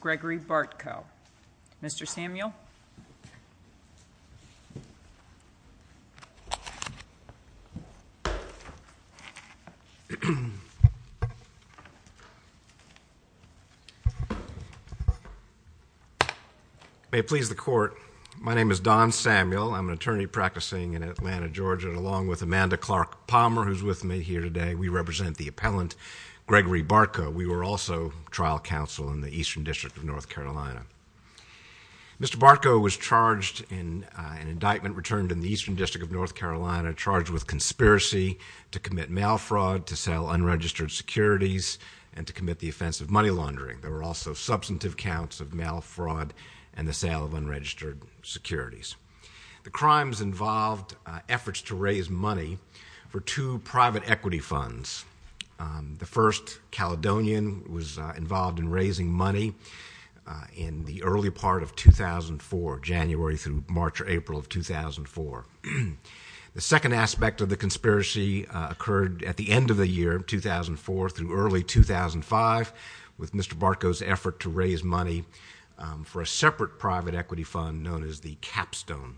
Gregory Bartko. Mr. Samuel? May it please the Court, my name is Don Samuel. I'm an attorney practicing in Atlanta, Georgia, and along with Amanda Clark Palmer, who's with me here today, we represent the appellant Gregory Bartko. We were also trial counsel in the Eastern District of North Carolina. Mr. Bartko was charged in an indictment returned in the Eastern District of North Carolina, charged with conspiracy to commit mail fraud, to sell unregistered securities, and to commit the offense of money laundering. There were also substantive counts of mail fraud and the sale of unregistered securities. The crimes involved efforts to raise money for two private equity funds. The first, Caledonian, was involved in raising money in the early part of 2004, January through March or April of 2004. The second aspect of the conspiracy occurred at the end of the year, 2004 through early 2005, with Mr. Bartko's effort to raise money for a separate private equity fund known as the Capstone.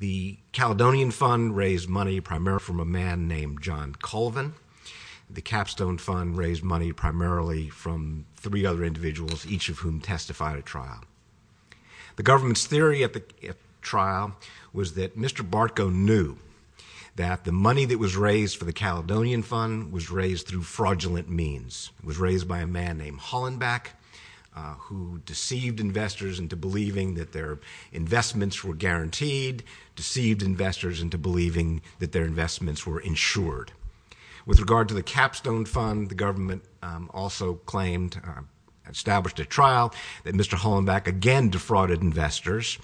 The Caledonian fund raised money primarily from a man named John Colvin. The Capstone fund raised money primarily from three other individuals, each of whom testified at trial. The government's theory at the trial was that Mr. Bartko knew that the money that was raised for the Caledonian fund was raised through fraudulent means. It was raised by a man named Hollenbeck, who deceived investors into believing that their investments were guaranteed, deceived investors into believing that their investments were insured. With regard to the Capstone fund, the government also claimed, established at trial, that Mr. Hollenbeck again defrauded investors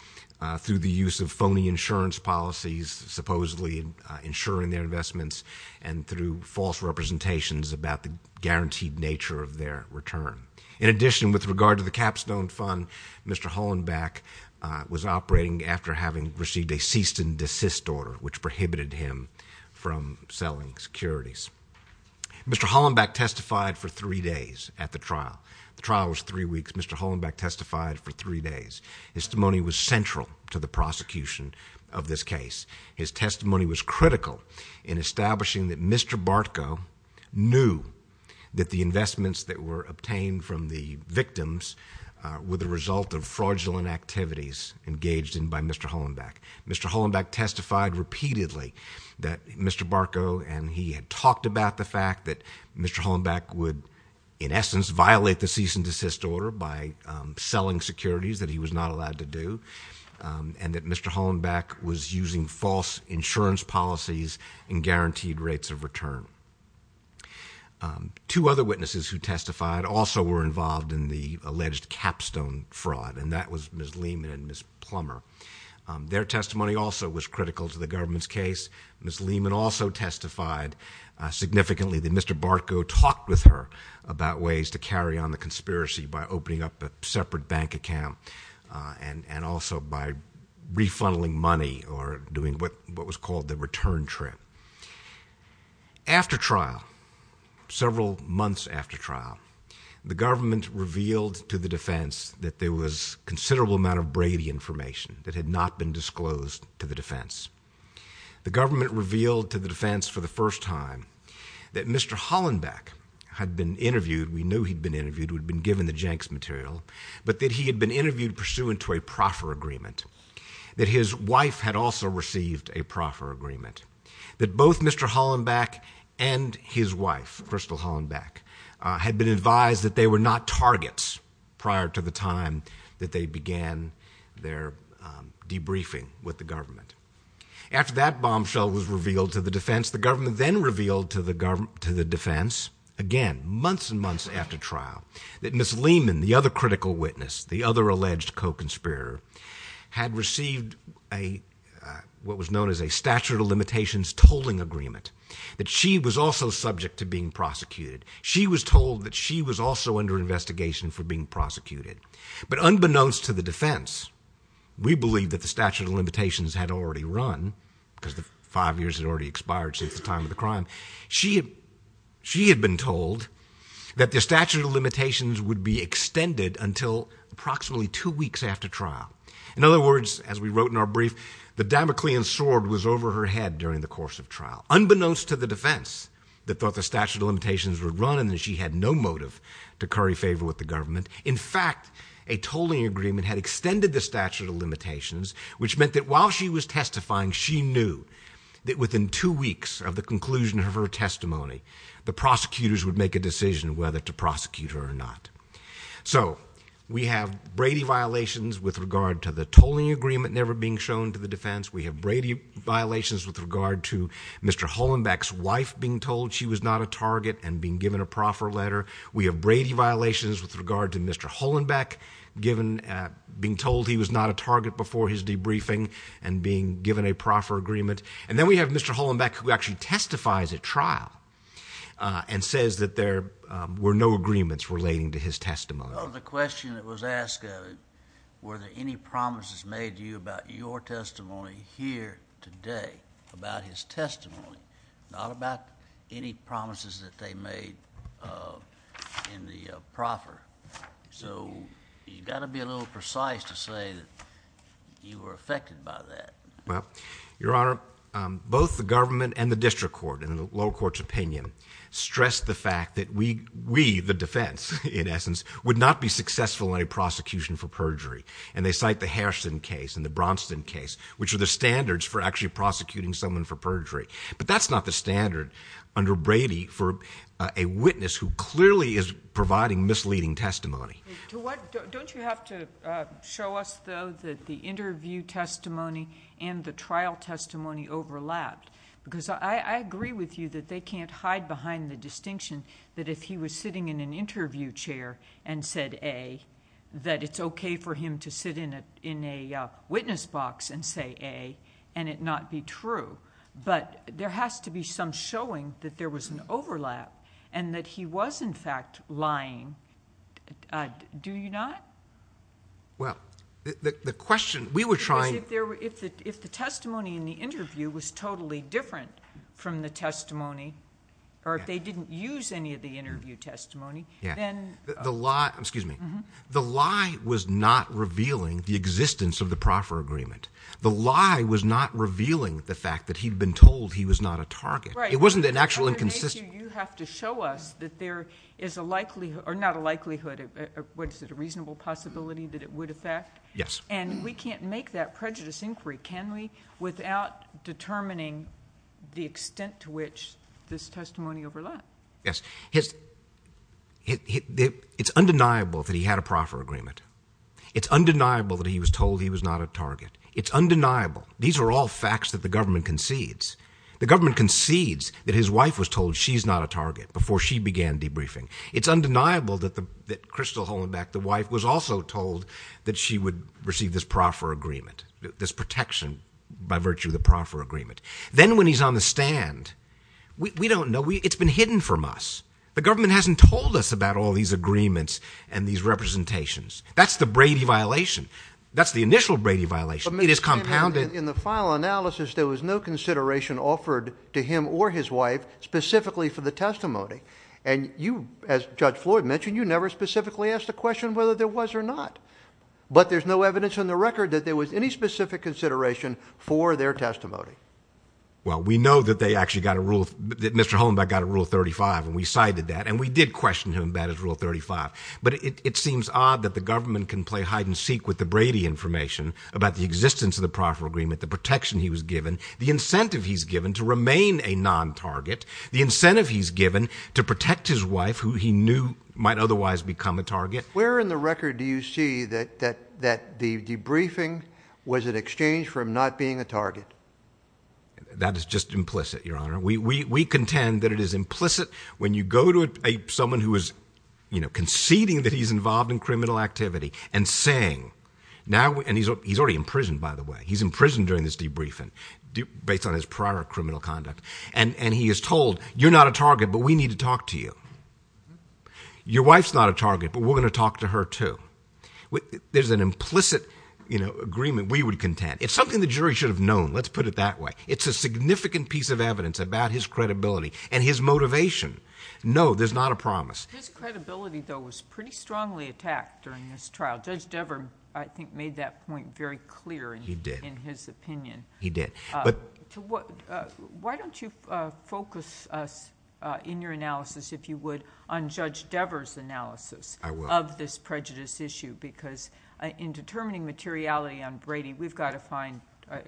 through the use of phony insurance policies, supposedly insuring their investments, and through false representations about the guaranteed nature of their return. In addition, with regard to the Capstone fund, Mr. Hollenbeck was operating after having received a cease and desist order, which prohibited him from selling securities. Mr. Hollenbeck testified for three days at the trial. The trial was three weeks. Mr. Hollenbeck testified for three days. His testimony was central to the prosecution of this case. His testimony was critical in establishing that Mr. Bartko knew that the investments that were obtained from the victims were the result of fraudulent activities engaged in by Mr. Hollenbeck. Mr. Hollenbeck testified repeatedly that Mr. Bartko, and he had talked about the fact that Mr. Hollenbeck would, in essence, violate the cease and desist order by selling securities that he was not allowed to sell. And that Mr. Hollenbeck was using false insurance policies and guaranteed rates of return. Two other witnesses who testified also were involved in the alleged Capstone fraud, and that was Ms. Lehman and Ms. Plummer. Their testimony also was critical to the government's case. Ms. Lehman also testified significantly that Mr. Bartko talked with her about ways to carry on the conspiracy by opening up a separate bank account. And also by refunding money or doing what was called the return trip. After trial, several months after trial, the government revealed to the defense that there was a considerable amount of Brady information that had not been disclosed to the defense. The government revealed to the defense for the first time that Mr. Hollenbeck had been interviewed. We knew he'd been interviewed, we'd been given the Jenks material, but that he had been interviewed pursuant to a proffer agreement. That his wife had also received a proffer agreement. That both Mr. Hollenbeck and his wife, Crystal Hollenbeck, had been advised that they were not targets prior to the time that they began their debriefing with the government. After that bombshell was revealed to the defense, the government then revealed to the defense, again, months and months after trial, that Ms. Lehman, the other critical witness, the other alleged co-conspirator, had received what was known as a statute of limitations tolling agreement. That she was also subject to being prosecuted. She was told that she was also under investigation for being prosecuted. But unbeknownst to the defense, we believed that the statute of limitations had already run, because the five years had already expired since the time of the crime. She had been told that the statute of limitations would be extended until approximately two weeks after trial. In other words, as we wrote in our brief, the Damoclean sword was over her head during the course of trial. Unbeknownst to the defense that thought the statute of limitations would run and that she had no motive to curry favor with the government. In fact, a tolling agreement had extended the statute of limitations, which meant that while she was testifying, she knew that within two weeks of the conclusion of her testimony, the prosecutors would make a decision whether to prosecute her or not. So, we have Brady violations with regard to the tolling agreement never being shown to the defense. We have Brady violations with regard to Mr. Hollenbeck's wife being told she was not a target and being given a proffer letter. We have Brady violations with regard to Mr. Hollenbeck being told he was not a target before his debriefing and being given a proffer agreement. And then we have Mr. Hollenbeck who actually testifies at trial and says that there were no agreements relating to his testimony. Well, the question that was asked of it, were there any promises made to you about your testimony here today about his testimony? Not about any promises that they made in the proffer. So, you've got to be a little precise to say that you were affected by that. Well, Your Honor, both the government and the district court, in the lower court's opinion, stressed the fact that we, the defense, in essence, would not be successful in a prosecution for perjury. And they cite the Harrison case and the Braunston case, which are the standards for actually prosecuting someone for perjury. But that's not the standard under Brady for a witness who clearly is providing misleading testimony. Don't you have to show us, though, that the interview testimony and the trial testimony overlapped? Because I agree with you that they can't hide behind the distinction that if he was sitting in an interview chair and said A, that it's okay for him to sit in a witness box and say A and it not be true. But there has to be some showing that there was an overlap and that he was, in fact, lying. Do you not? Well, the question... we were trying... Because if the testimony in the interview was totally different from the testimony, or if they didn't use any of the interview testimony, then... Excuse me. The lie was not revealing the existence of the proffer agreement. The lie was not revealing the fact that he'd been told he was not a target. Right. It wasn't an actual inconsistency. And we can't make that prejudice inquiry, can we, without determining the extent to which this testimony overlapped? Yes. It's undeniable that he had a proffer agreement. It's undeniable that he was told he was not a target. It's undeniable. These are all facts that the government concedes. The government concedes that his wife was told she's not a target before she began debriefing. It's undeniable that Crystal Hollenbeck, the wife, was also told that she would receive this proffer agreement, this protection by virtue of the proffer agreement. Then when he's on the stand, we don't know. It's been hidden from us. The government hasn't told us about all these agreements and these representations. That's the Brady violation. That's the initial Brady violation. It is compounded... In the final analysis, there was no consideration offered to him or his wife specifically for the testimony. And you, as Judge Floyd mentioned, you never specifically asked a question whether there was or not. But there's no evidence on the record that there was any specific consideration for their testimony. Well, we know that they actually got a rule... that Mr. Hollenbeck got a Rule 35, and we cited that. And we did question him about his Rule 35. But it seems odd that the government can play hide-and-seek with the Brady information about the existence of the proffer agreement, the protection he was given, the incentive he's given to remain a non-target, the incentive he's given to protect his wife, who he knew might otherwise become a target. Where in the record do you see that the debriefing was an exchange for him not being a target? That is just implicit, Your Honor. We contend that it is implicit when you go to someone who is conceding that he's involved in criminal activity and saying... And he's already in prison, by the way. He's in prison during this debriefing, based on his prior criminal conduct. And he is told, you're not a target, but we need to talk to you. Your wife's not a target, but we're going to talk to her, too. There's an implicit agreement we would contend. It's something the jury should have known. Let's put it that way. It's a significant piece of evidence about his credibility and his motivation. No, there's not a promise. His credibility, though, was pretty strongly attacked during this trial. Judge Dever, I think, made that point very clear... He did.... in his opinion. He did. Why don't you focus us, in your analysis, if you would, on Judge Dever's analysis... I will.... of this prejudice issue? Because, in determining materiality on Brady, we've got to find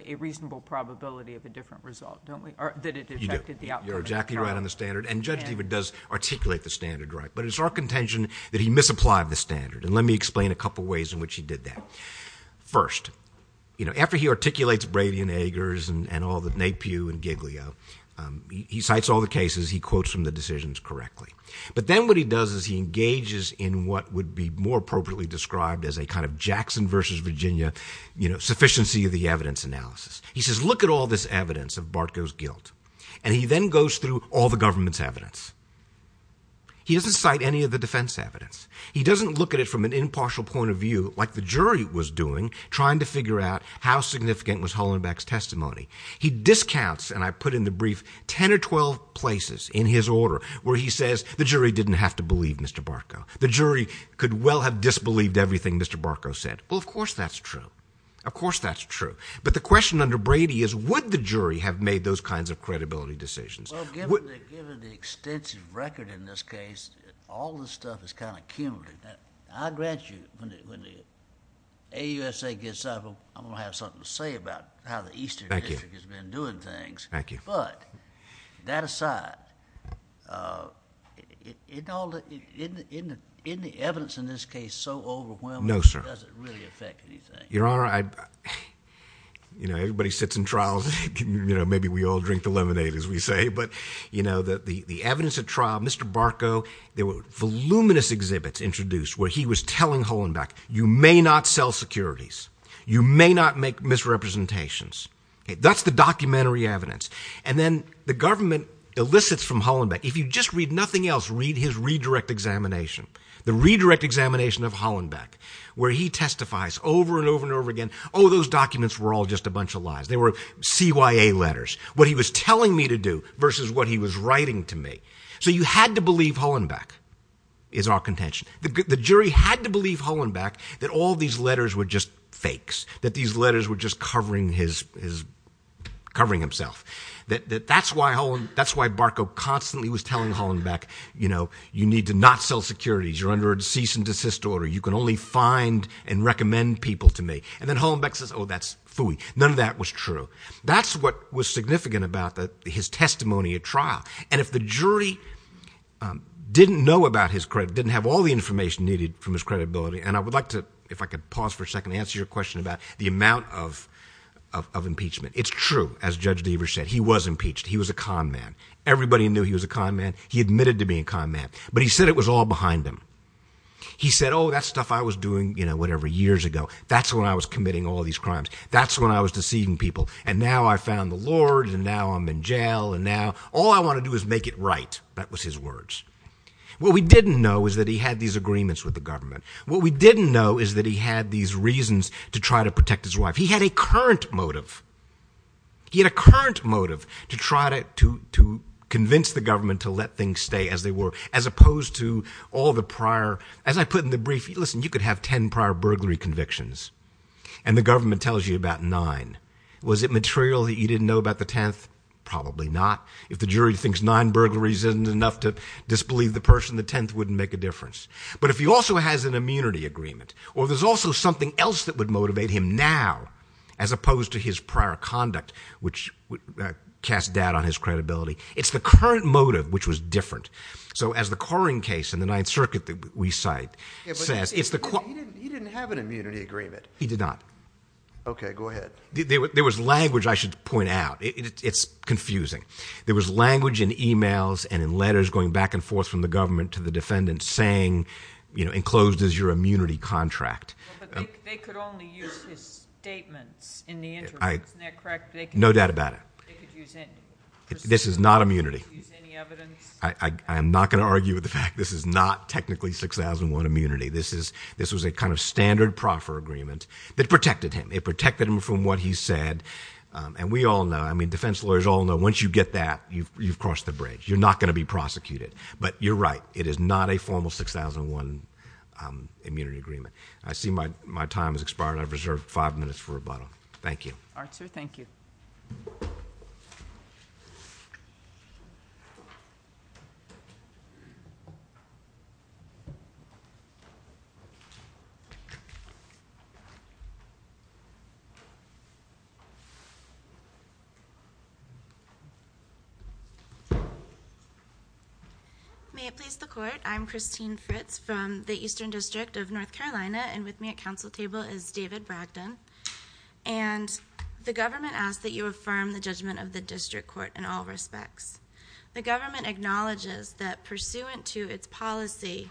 a reasonable probability of a different result, don't we? Or, that it affected the outcome of the trial. You're exactly right on the standard. And Judge Dever does articulate the standard, right? But, it's our contention that he misapplied the standard. And, let me explain a couple of ways in which he did that. First, you know, after he articulates Brady and Eggers and all the... Napiew and Giglio, he cites all the cases he quotes from the decisions correctly. But then, what he does is he engages in what would be more appropriately described as a kind of Jackson versus Virginia... you know, sufficiency of the evidence analysis. He says, look at all this evidence of Bartko's guilt. And, he then goes through all the government's evidence. He doesn't cite any of the defense evidence. He doesn't look at it from an impartial point of view, like the jury was doing, trying to figure out how significant was Hollenbeck's testimony. He discounts, and I put in the brief, 10 or 12 places in his order, where he says, the jury didn't have to believe Mr. Bartko. The jury could well have disbelieved everything Mr. Bartko said. Well, of course that's true. Of course that's true. But, the question under Brady is, would the jury have made those kinds of credibility decisions? Well, given the extensive record in this case, all this stuff is kind of cumulative. I grant you, when the AUSA gets out of them, I'm going to have something to say about how the Eastern District... Thank you.... has been doing things. Thank you. But, that aside, isn't the evidence in this case so overwhelming... No, sir.... it doesn't really affect anything? Your Honor, I... you know, everybody sits in trials. You know, maybe we all drink the lemonade, as we say. But, you know, the evidence at trial, Mr. Bartko... There were voluminous exhibits introduced, where he was telling Hollenbeck, you may not sell securities. You may not make misrepresentations. That's the documentary evidence. And then, the government elicits from Hollenbeck... If you just read nothing else, read his redirect examination. The redirect examination of Hollenbeck, where he testifies over and over and over again. Oh, those documents were all just a bunch of lies. They were CYA letters. What he was telling me to do, versus what he was writing to me. So, you had to believe Hollenbeck is our contention. The jury had to believe Hollenbeck that all these letters were just fakes. That these letters were just covering his... covering himself. That's why Bartko constantly was telling Hollenbeck, you know, you need to not sell securities. You're under a cease and desist order. You can only find and recommend people to me. And then, Hollenbeck says, oh, that's phooey. None of that was true. That's what was significant about his testimony at trial. And, if the jury didn't know about his credibility, didn't have all the information needed from his credibility... And, I would like to, if I could pause for a second, answer your question about the amount of impeachment. It's true, as Judge Deaver said. He was impeached. He was a con man. Everybody knew he was a con man. He admitted to being a con man. But, he said it was all behind him. He said, oh, that stuff I was doing, you know, whatever, years ago. That's when I was committing all these crimes. That's when I was deceiving people. And now, I found the Lord. And now, I'm in jail. And now, all I want to do is make it right. That was his words. What we didn't know is that he had these agreements with the government. What we didn't know is that he had these reasons to try to protect his wife. He had a current motive. He had a current motive to try to convince the government to let things stay as they were. As opposed to all the prior... As I put in the brief, listen, you could have ten prior burglary convictions. And, the government tells you about nine. Was it material that you didn't know about the tenth? Probably not. If the jury thinks nine burglaries isn't enough to disbelieve the person, the tenth wouldn't make a difference. But, if he also has an immunity agreement, or there's also something else that would motivate him now, as opposed to his prior conduct, which would cast doubt on his credibility, it's the current motive which was different. So, as the Coring case in the Ninth Circuit that we cite says, it's the... He didn't have an immunity agreement. He did not. Okay, go ahead. There was language I should point out. It's confusing. There was language in emails and in letters going back and forth from the government to the defendant saying, you know, enclosed is your immunity contract. But, they could only use his statements in the interview. Isn't that correct? No doubt about it. They could use any... This is not immunity. They could use any evidence. I am not going to argue with the fact this is not technically 6001 immunity. This is... This was a kind of standard proffer agreement that protected him. It protected him from what he said. We all know, I mean defense lawyers all know, once you get that, you've crossed the bridge. You're not going to be prosecuted. But, you're right. It is not a formal 6001 immunity agreement. I see my time has expired. I've reserved five minutes for rebuttal. Thank you. Arthur, thank you. May it please the court. I'm Christine Fritz from the Eastern District of North Carolina. And, with me at council table is David Bragdon. And, the government asks that you affirm the judgment of the district court in all respects. The government acknowledges that pursuant to its policy,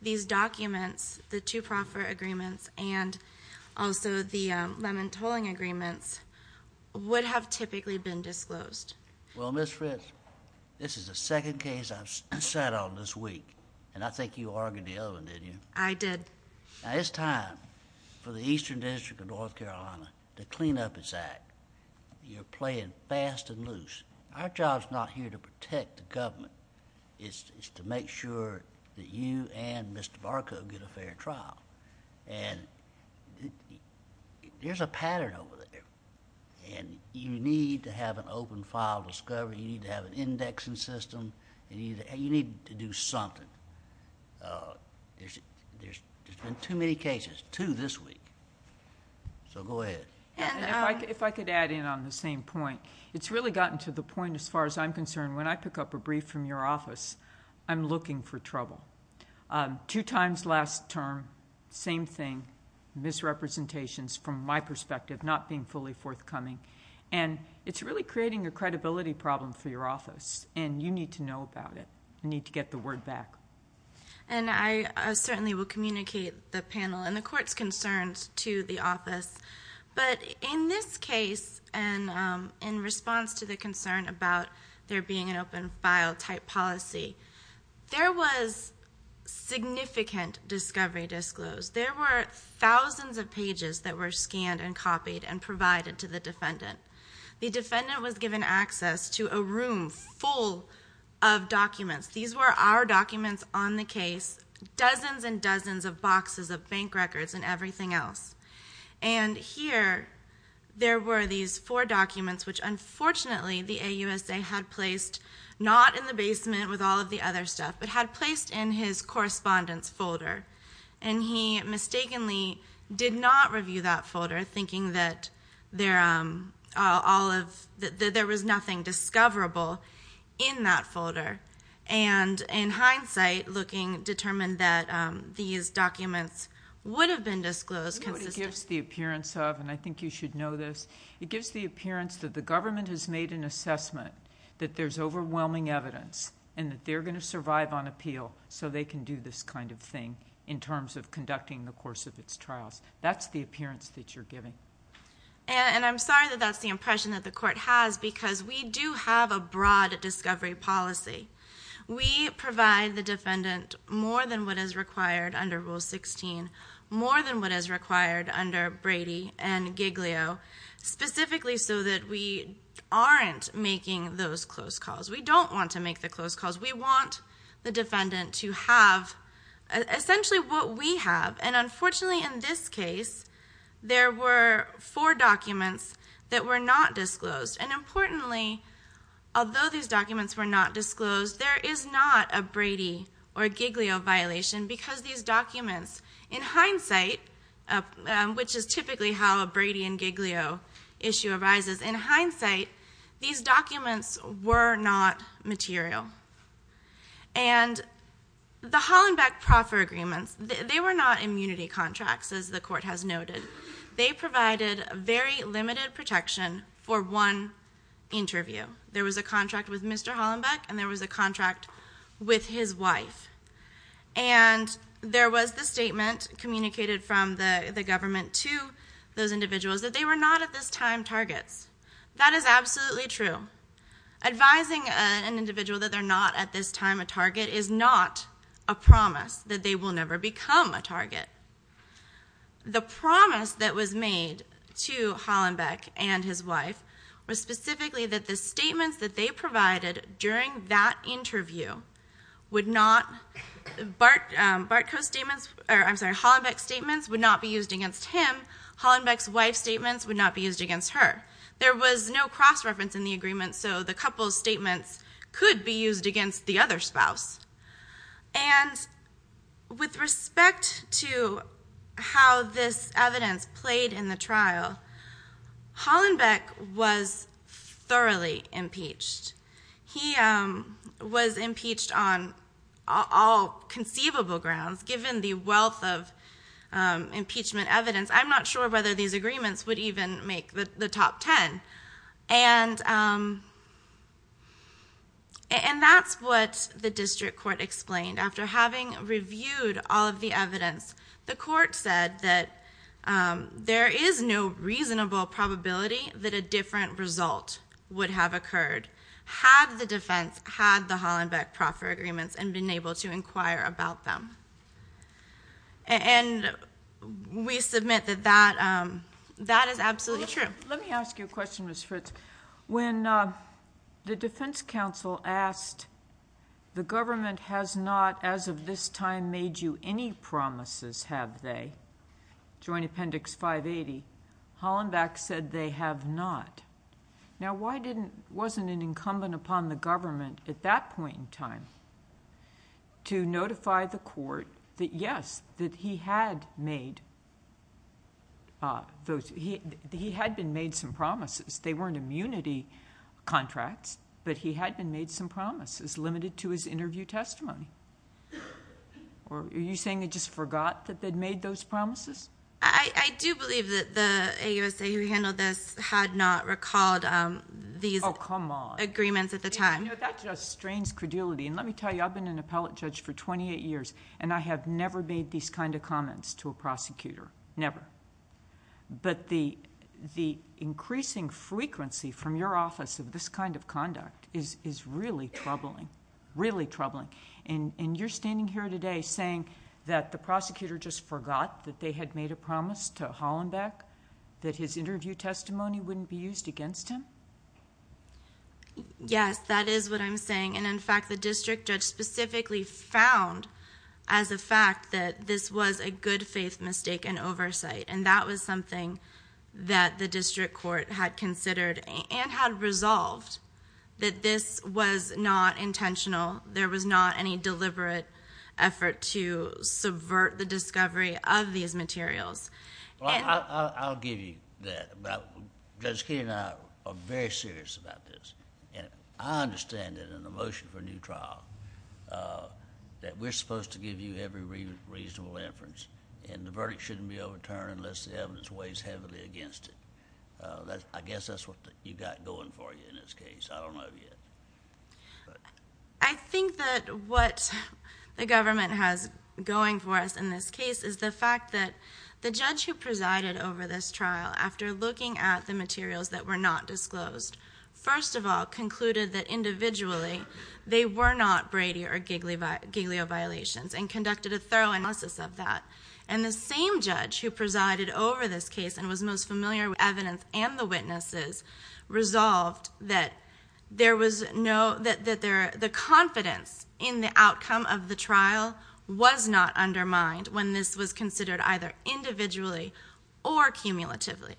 these documents, the two proffer agreements, and also the lemon tolling agreements would have typically been disclosed. Well, Ms. Fritz, this is the second case I've sat on this week. And, I think you argued the other one, didn't you? I did. Now, it's time for the Eastern District of North Carolina to clean up its act. You're playing fast and loose. Our job's not here to protect the government. It's to make sure that you and Mr. Barco get a fair trial. And, there's a pattern over there. And, you need to have an open file discovery. You need to have an indexing system. You need to do something. There's been too many cases, two this week. So, go ahead. If I could add in on the same point. It's really gotten to the point, as far as I'm concerned, when I pick up a brief from your office, I'm looking for trouble. Two times last term, same thing. Misrepresentations, from my perspective, not being fully forthcoming. And, it's really creating a credibility problem for your office. And, you need to know about it. You need to get the word back. And, I certainly will communicate the panel and the court's concerns to the office. But, in this case, and in response to the concern about there being an open file type policy, there was significant discovery disclosed. There were thousands of pages that were scanned and copied and provided to the defendant. The defendant was given access to a room full of documents. These were our documents on the case. Dozens and dozens of boxes of bank records and everything else. And, here, there were these four documents, which, unfortunately, the AUSA had placed, not in the basement with all of the other stuff, but had placed in his correspondence folder. And, he mistakenly did not review that folder, thinking that there was nothing discoverable in that folder. And, in hindsight, determined that these documents would have been disclosed consistently. It gives the appearance of, and I think you should know this, it gives the appearance that the government has made an assessment that there's overwhelming evidence and that they're going to survive on appeal so they can do this kind of thing, in terms of conducting the course of its trials. That's the appearance that you're giving. And, I'm sorry that that's the impression that the court has, because we do have a broad discovery policy. We provide the defendant more than what is required under Rule 16, more than what is required under Brady and Giglio, specifically so that we aren't making those close calls. We don't want to make the close calls. We want the defendant to have, essentially, what we have. And, unfortunately, in this case, there were four documents that were not disclosed. And, importantly, although these documents were not disclosed, there is not a Brady or Giglio violation, because these documents, in hindsight, which is typically how a Brady and Giglio issue arises, in hindsight, these documents were not material. And, the Hollenbeck proffer agreements, they were not immunity contracts, as the court has noted. They provided very limited protection for one interview. There was a contract with Mr. Hollenbeck, and there was a contract with his wife. And, there was the statement communicated from the government to those individuals that they were not, at this time, targets. That is absolutely true. Advising an individual that they're not, at this time, a target, is not a promise that they will never become a target. The promise that was made to Hollenbeck and his wife was, specifically, that the statements that they provided during that interview would not, Barthko's statements, or, I'm sorry, Hollenbeck's statements would not be used against him. Hollenbeck's wife's statements would not be used against her. There was no cross-reference in the agreement, so the couple's statements could be used against the other spouse. And, with respect to how this evidence played in the trial, Hollenbeck was thoroughly impeached. He was impeached on all conceivable grounds, given the wealth of impeachment evidence. I'm not sure whether these agreements would even make the top ten. And, that's what the district court explained. After having reviewed all of the evidence, the court said that there is no reasonable probability that a different result would have occurred, had the defense had the Hollenbeck-Proffer agreements and been able to inquire about them. And, we submit that that is absolutely true. Let me ask you a question, Ms. Fritz. When the defense counsel asked, the government has not, as of this time, made you any promises, have they? Joint Appendix 580. Hollenbeck said they have not. Now, why wasn't it incumbent upon the government, at that point in time, to notify the court that, yes, that he had been made some promises. They weren't immunity contracts, but he had been made some promises, limited to his interview testimony. Are you saying they just forgot that they'd made those promises? I do believe that the AUSA who handled this had not recalled these agreements at the time. Oh, come on. You know, that just strains credulity, and let me tell you, I've been an appellate judge for twenty-eight years, and I have never made these kind of comments to a prosecutor, never. But, the increasing frequency from your office of this kind of conduct is really troubling, really troubling. And, you're standing here today saying that the prosecutor just forgot that they had made a promise to Hollenbeck, that his interview testimony wouldn't be used against him? Yes, that is what I'm saying. And, in fact, the district judge specifically found, as a fact, that this was a good faith mistake in oversight, and that was something that the district court had considered and had resolved that this was not intentional. There was not any deliberate effort to subvert the discovery of these materials. Well, I'll give you that. Judge Kennedy and I are very serious about this, and I understand it in the motion for a new trial that we're supposed to give you every reasonable inference, and the verdict shouldn't be overturned unless the evidence weighs heavily against it. I guess that's what you've got going for you in this case. I don't know yet. I think that what the government has going for us in this case is the fact that the judge who presided over this trial, after looking at the materials that were not disclosed, first of all concluded that individually they were not Brady or Giglio violations and conducted a thorough analysis of that. And the same judge who presided over this case and was most familiar with the evidence and the witnesses resolved that the confidence in the outcome of the trial was not undermined when this was considered either individually or cumulatively.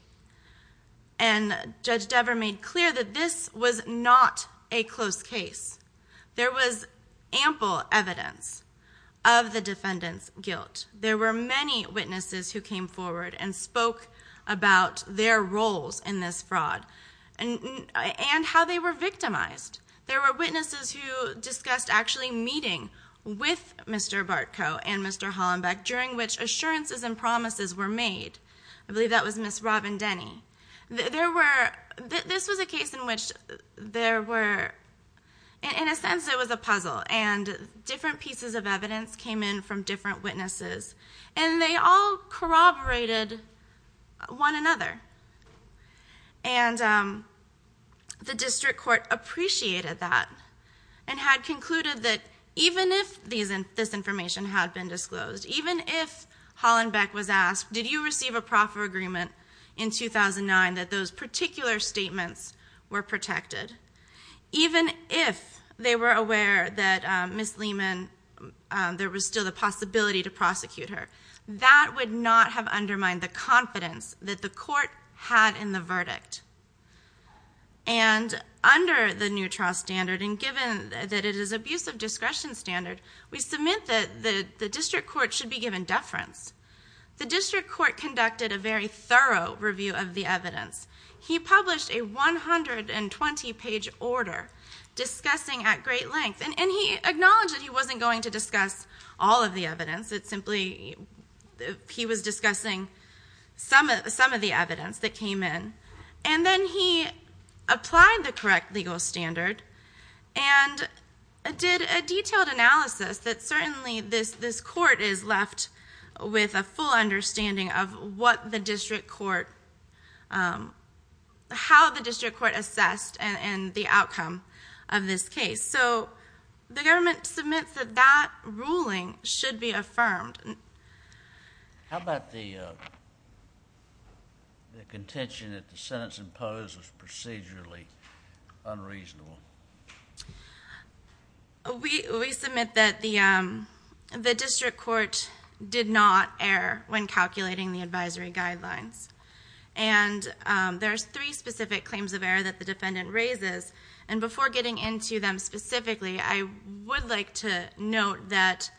And Judge Dever made clear that this was not a close case. There was ample evidence of the defendant's guilt. There were many witnesses who came forward and spoke about their roles in this fraud and how they were victimized. There were witnesses who discussed actually meeting with Mr. Bartko and Mr. Hollenbeck during which assurances and promises were made. I believe that was Ms. Robin Denny. This was a case in which there were, in a sense it was a puzzle, and different pieces of evidence came in from different witnesses, and they all corroborated one another. And the district court appreciated that and had concluded that even if this information had been disclosed, even if Hollenbeck was asked, did you receive a proffer agreement in 2009 that those particular statements were protected, even if they were aware that Ms. Lehman, there was still the possibility to prosecute her, that would not have undermined the confidence that the court had in the verdict. And under the new trial standard, and given that it is abusive discretion standard, we submit that the district court should be given deference. The district court conducted a very thorough review of the evidence. He published a 120-page order discussing at great length, and he acknowledged that he wasn't going to discuss all of the evidence. It simply, he was discussing some of the evidence that came in. And then he applied the correct legal standard and did a detailed analysis that certainly this court is left with a full understanding of what the district court, how the district court assessed the outcome of this case. So the government submits that that ruling should be affirmed. How about the contention that the sentence imposed was procedurally unreasonable? We submit that the district court did not err when calculating the advisory guidelines. And there's three specific claims of error that the defendant raises. And before getting into them specifically, I would like to note that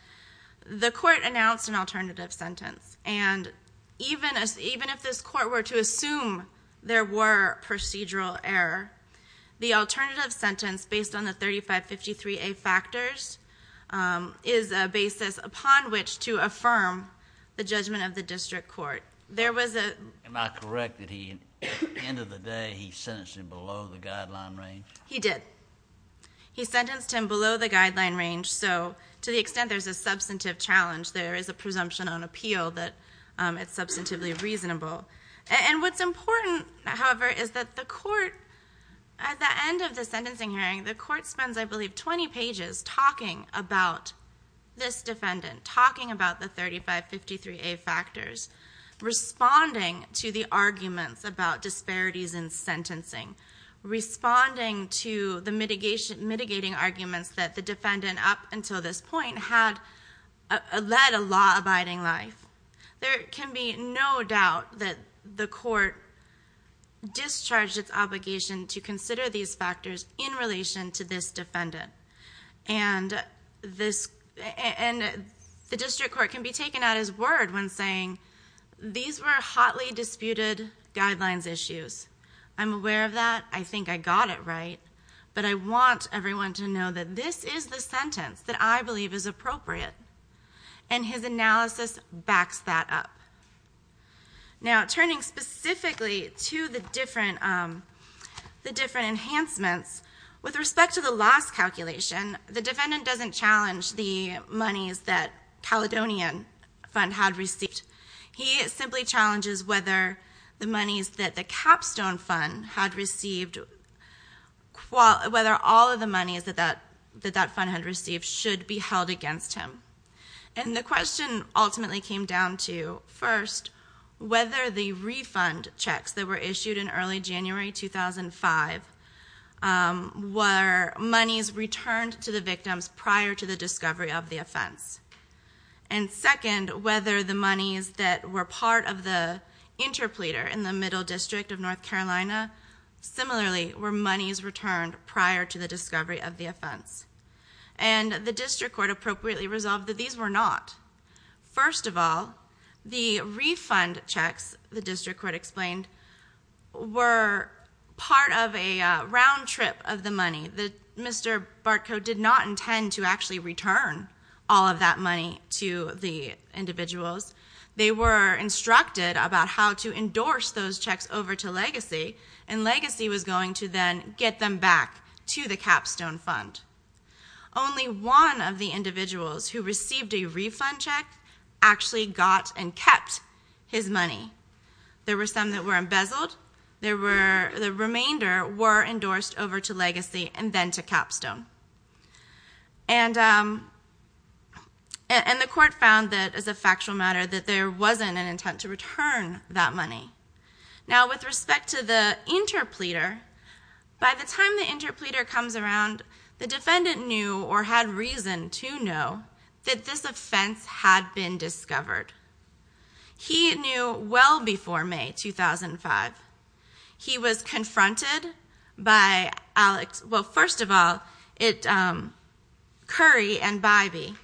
the court announced an alternative sentence. And even if this court were to assume there were procedural error, the alternative sentence, based on the 3553A factors, is a basis upon which to affirm the judgment of the district court. Am I correct that at the end of the day he sentenced him below the guideline range? He did. He sentenced him below the guideline range. So to the extent there's a substantive challenge, there is a presumption on appeal that it's substantively reasonable. And what's important, however, is that the court, at the end of the sentencing hearing, the court spends, I believe, 20 pages talking about this defendant, talking about the 3553A factors. Responding to the arguments about disparities in sentencing. Responding to the mitigating arguments that the defendant, up until this point, had led a law-abiding life. There can be no doubt that the court discharged its obligation And the district court can be taken at his word when saying, these were hotly disputed guidelines issues. I'm aware of that. I think I got it right. But I want everyone to know that this is the sentence that I believe is appropriate. And his analysis backs that up. Now, turning specifically to the different enhancements, with respect to the last calculation, the defendant doesn't challenge the monies that Caledonian Fund had received. He simply challenges whether the monies that the Capstone Fund had received, whether all of the monies that that fund had received should be held against him. Whether the refund checks that were issued in early January 2005 were monies returned to the victims prior to the discovery of the offense. And second, whether the monies that were part of the interpleader in the Middle District of North Carolina, similarly were monies returned prior to the discovery of the offense. And the district court appropriately resolved that these were not. First of all, the refund checks, the district court explained, were part of a round trip of the money. Mr. Bartko did not intend to actually return all of that money to the individuals. They were instructed about how to endorse those checks over to Legacy, and Legacy was going to then get them back to the Capstone Fund. Only one of the individuals who received a refund check actually got and kept his money. There were some that were embezzled. The remainder were endorsed over to Legacy and then to Capstone. And the court found that, as a factual matter, that there wasn't an intent to return that money. Now, with respect to the interpleader, by the time the interpleader comes around, the defendant knew or had reason to know that this offense had been discovered. He knew well before May 2005. He was confronted by Alex—well, first of all, Curry and Bybee,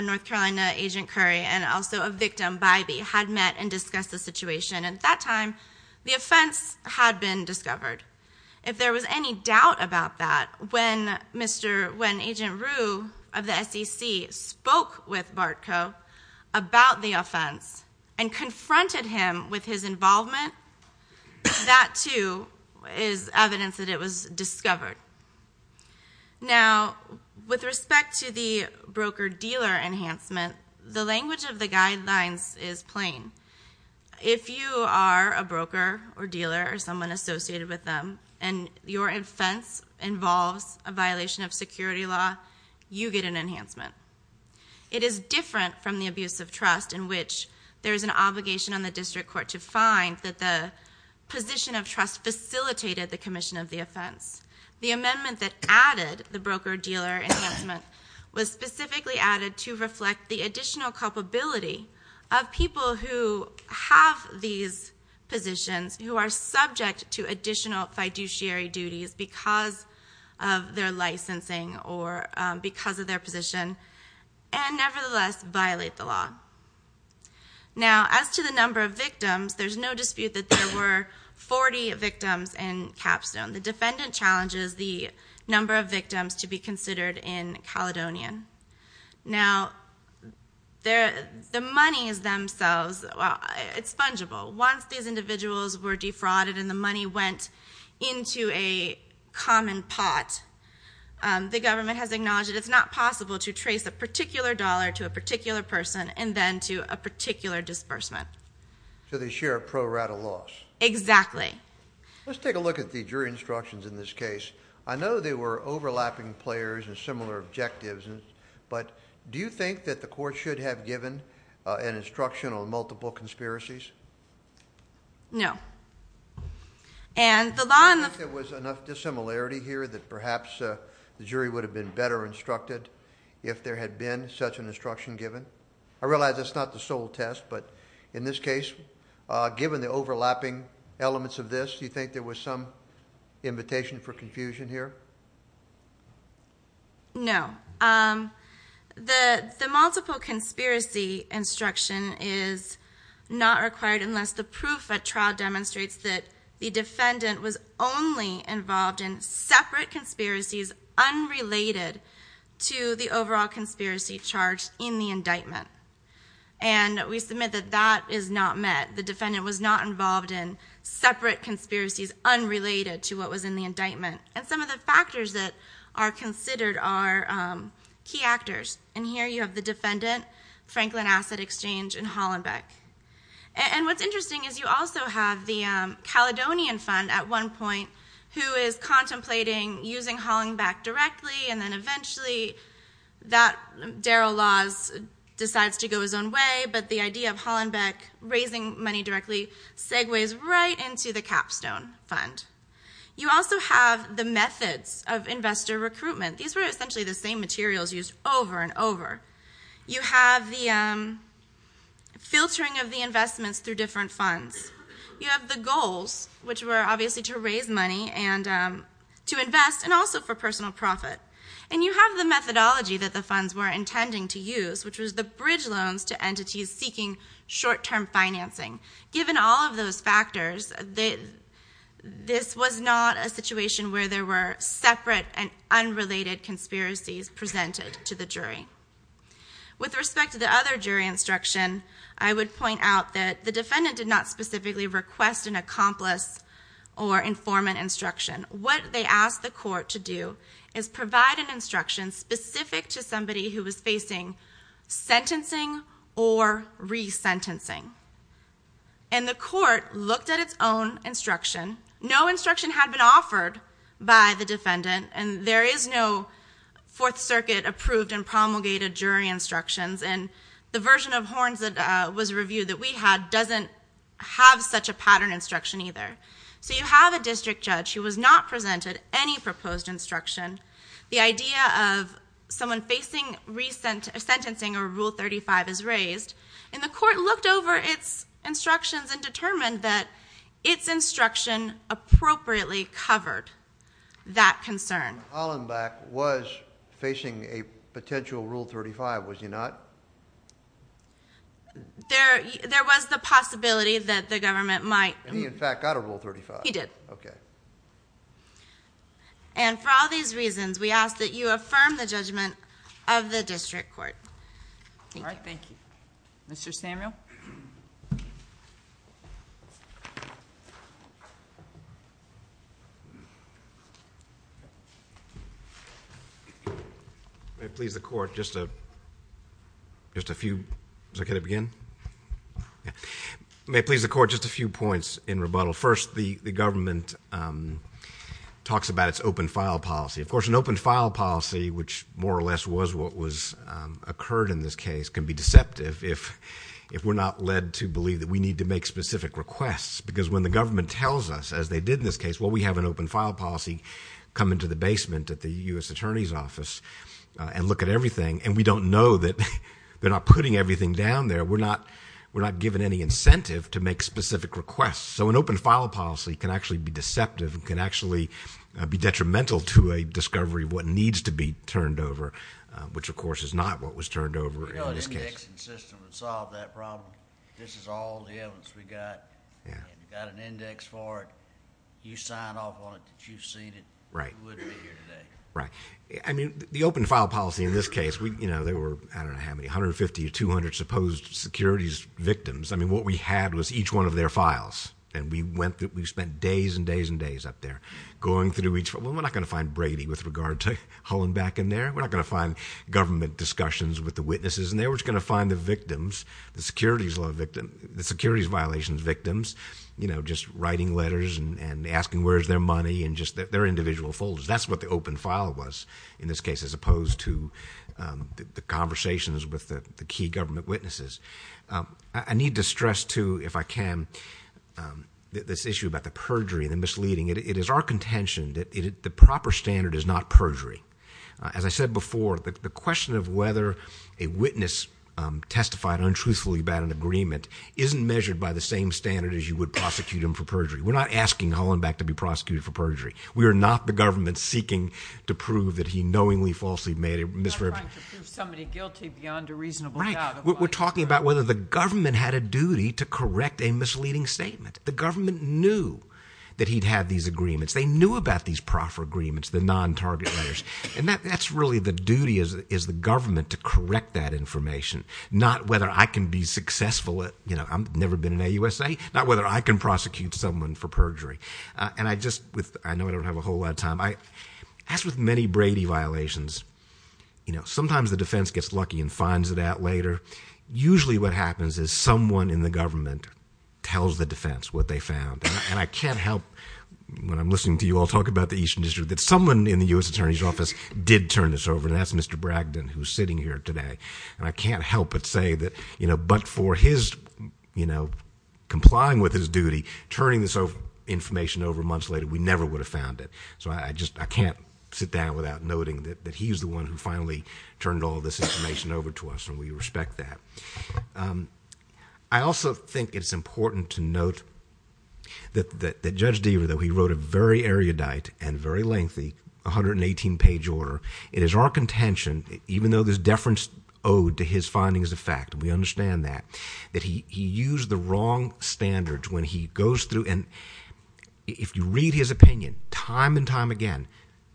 North Carolina Agent Curry and also a victim, Bybee, had met and discussed the situation. At that time, the offense had been discovered. If there was any doubt about that, when Agent Rue of the SEC spoke with Bartko about the offense and confronted him with his involvement, that, too, is evidence that it was discovered. Now, with respect to the broker-dealer enhancement, the language of the guidelines is plain. If you are a broker or dealer or someone associated with them and your offense involves a violation of security law, you get an enhancement. It is different from the abuse of trust in which there is an obligation on the district court to find that the position of trust facilitated the commission of the offense. The amendment that added the broker-dealer enhancement was specifically added to reflect the additional culpability of people who have these positions, who are subject to additional fiduciary duties because of their licensing or because of their position, and nevertheless violate the law. Now, as to the number of victims, there's no dispute that there were 40 victims in Capstone. The defendant challenges the number of victims to be considered in Caledonian. Now, the monies themselves, it's fungible. Once these individuals were defrauded and the money went into a common pot, the government has acknowledged that it's not possible to trace a particular dollar to a particular person and then to a particular disbursement. So they share a pro-rata loss. Exactly. Let's take a look at the jury instructions in this case. I know they were overlapping players and similar objectives, but do you think that the court should have given an instruction on multiple conspiracies? No. And the law in the... Do you think there was enough dissimilarity here that perhaps the jury would have been better instructed if there had been such an instruction given? I realize that's not the sole test, but in this case, given the overlapping elements of this, do you think there was some invitation for confusion here? No. The multiple conspiracy instruction is not required unless the proof at trial demonstrates that the defendant was only involved in separate conspiracies unrelated to the overall conspiracy charged in the indictment. And we submit that that is not met. The defendant was not involved in separate conspiracies unrelated to what was in the indictment. And some of the factors that are considered are key actors. And here you have the defendant, Franklin Asset Exchange, and Hollenbeck. And what's interesting is you also have the Caledonian Fund at one point who is contemplating using Hollenbeck directly and then eventually Darrell Laws decides to go his own way, but the idea of Hollenbeck raising money directly segues right into the Capstone Fund. You also have the methods of investor recruitment. These were essentially the same materials used over and over. You have the filtering of the investments through different funds. You have the goals, which were obviously to raise money and to invest, and also for personal profit. And you have the methodology that the funds were intending to use, which was the bridge loans to entities seeking short-term financing. Given all of those factors, this was not a situation where there were separate and unrelated conspiracies presented to the jury. With respect to the other jury instruction, I would point out that the defendant did not specifically request an accomplice or informant instruction. What they asked the court to do is provide an instruction specific to somebody who was facing sentencing or resentencing. And the court looked at its own instruction. No instruction had been offered by the defendant, and there is no Fourth Circuit-approved and promulgated jury instructions, and the version of Horns that was reviewed that we had doesn't have such a pattern instruction either. So you have a district judge who has not presented any proposed instruction. The idea of someone facing sentencing or Rule 35 is raised, and the court looked over its instructions and determined that its instruction appropriately covered that concern. Hollenbeck was facing a potential Rule 35, was he not? There was the possibility that the government might. He, in fact, got a Rule 35. He did. Okay. And for all these reasons, we ask that you affirm the judgment of the district court. Thank you. All right, thank you. Mr. Samuel? May it please the court, just a few points in rebuttal. First, the government talks about its open-file policy. Of course, an open-file policy, which more or less was what occurred in this case, can be deceptive if we're not led to believe that we need to make specific requests because when the government tells us, as they did in this case, well, we have an open-file policy, come into the basement at the U.S. Attorney's Office and look at everything, and we don't know that they're not putting everything down there, we're not given any incentive to make specific requests. So an open-file policy can actually be deceptive and can actually be detrimental to a discovery of what needs to be turned over, which, of course, is not what was turned over in this case. We know an indexing system would solve that problem. This is all the evidence we've got. We've got an index for it. You sign off on it that you've seen it. You wouldn't be here today. Right. I mean, the open-file policy in this case, there were, I don't know how many, 150 to 200 supposed securities victims. I mean, what we had was each one of their files, and we spent days and days and days up there going through each one. We're not going to find Brady with regard to hauling back in there. We're not going to find government discussions with the witnesses in there. We're just going to find the victims, the securities violations victims, just writing letters and asking where is their money and just their individual folders. That's what the open file was in this case as opposed to the conversations with the key government witnesses. I need to stress, too, if I can, this issue about the perjury and the misleading. It is our contention that the proper standard is not perjury. As I said before, the question of whether a witness testified untruthfully about an agreement isn't measured by the same standard as you would prosecute him for perjury. We're not asking Hollenbeck to be prosecuted for perjury. We are not the government seeking to prove that he knowingly, falsely made a misrepresentation. We're not trying to prove somebody guilty beyond a reasonable doubt. We're talking about whether the government had a duty to correct a misleading statement. The government knew that he'd had these agreements. They knew about these proffer agreements, the non-target letters. And that's really the duty is the government to correct that information, not whether I can be successful at, you know, I've never been in a USA, not whether I can prosecute someone for perjury. And I just, I know I don't have a whole lot of time. As with many Brady violations, you know, usually what happens is someone in the government tells the defense what they found. And I can't help, when I'm listening to you all talk about the Eastern District, that someone in the U.S. Attorney's Office did turn this over, and that's Mr. Bragdon who's sitting here today. And I can't help but say that, you know, but for his, you know, complying with his duty, turning this information over months later, we never would have found it. So I just, I can't sit down without noting that he's the one who finally turned all this information over to us, and we respect that. I also think it's important to note that Judge Deaver, though, he wrote a very erudite and very lengthy 118-page order. It is our contention, even though there's deference owed to his findings of fact, and we understand that, that he used the wrong standards when he goes through. And if you read his opinion time and time again,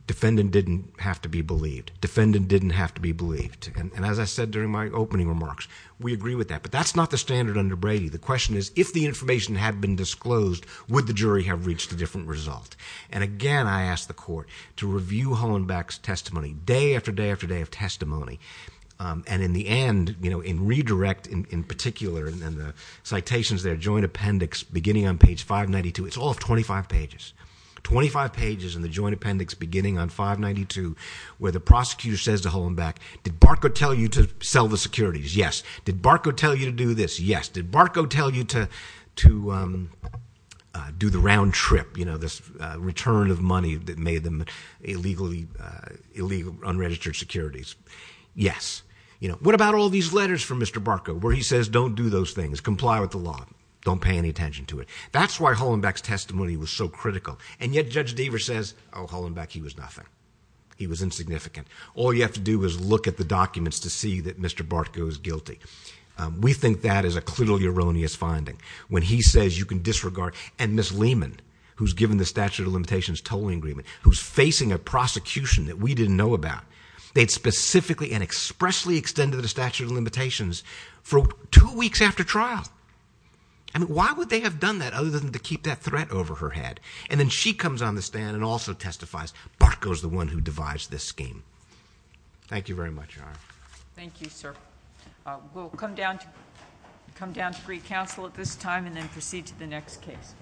defendant didn't have to be believed. Defendant didn't have to be believed. And as I said during my opening remarks, we agree with that. But that's not the standard under Brady. The question is, if the information had been disclosed, would the jury have reached a different result? And again, I ask the court to review Hollenbeck's testimony, day after day after day of testimony. And in the end, you know, in redirect, in particular, in the citations there, joint appendix beginning on page 592, it's all 25 pages, 25 pages in the joint appendix beginning on 592, where the prosecutor says to Hollenbeck, did Barco tell you to sell the securities? Yes. Did Barco tell you to do this? Yes. Did Barco tell you to do the round trip, you know, this return of money that made them illegal unregistered securities? Yes. You know, what about all these letters from Mr. Barco where he says, don't do those things, comply with the law, don't pay any attention to it? That's why Hollenbeck's testimony was so critical. And yet Judge Deaver says, oh, Hollenbeck, he was nothing. He was insignificant. All you have to do is look at the documents to see that Mr. Barco is guilty. We think that is a clearly erroneous finding. When he says you can disregard, and Ms. Lehman, who's given the statute of limitations tolling agreement, who's facing a prosecution that we didn't know about, they'd specifically and expressly extended the statute of limitations for two weeks after trial. I mean, why would they have done that other than to keep that threat over her head? And then she comes on the stand and also testifies, Barco's the one who devised this scheme. Thank you very much, Your Honor. Thank you, sir. We'll come down to Greek Council at this time and then proceed to the next case.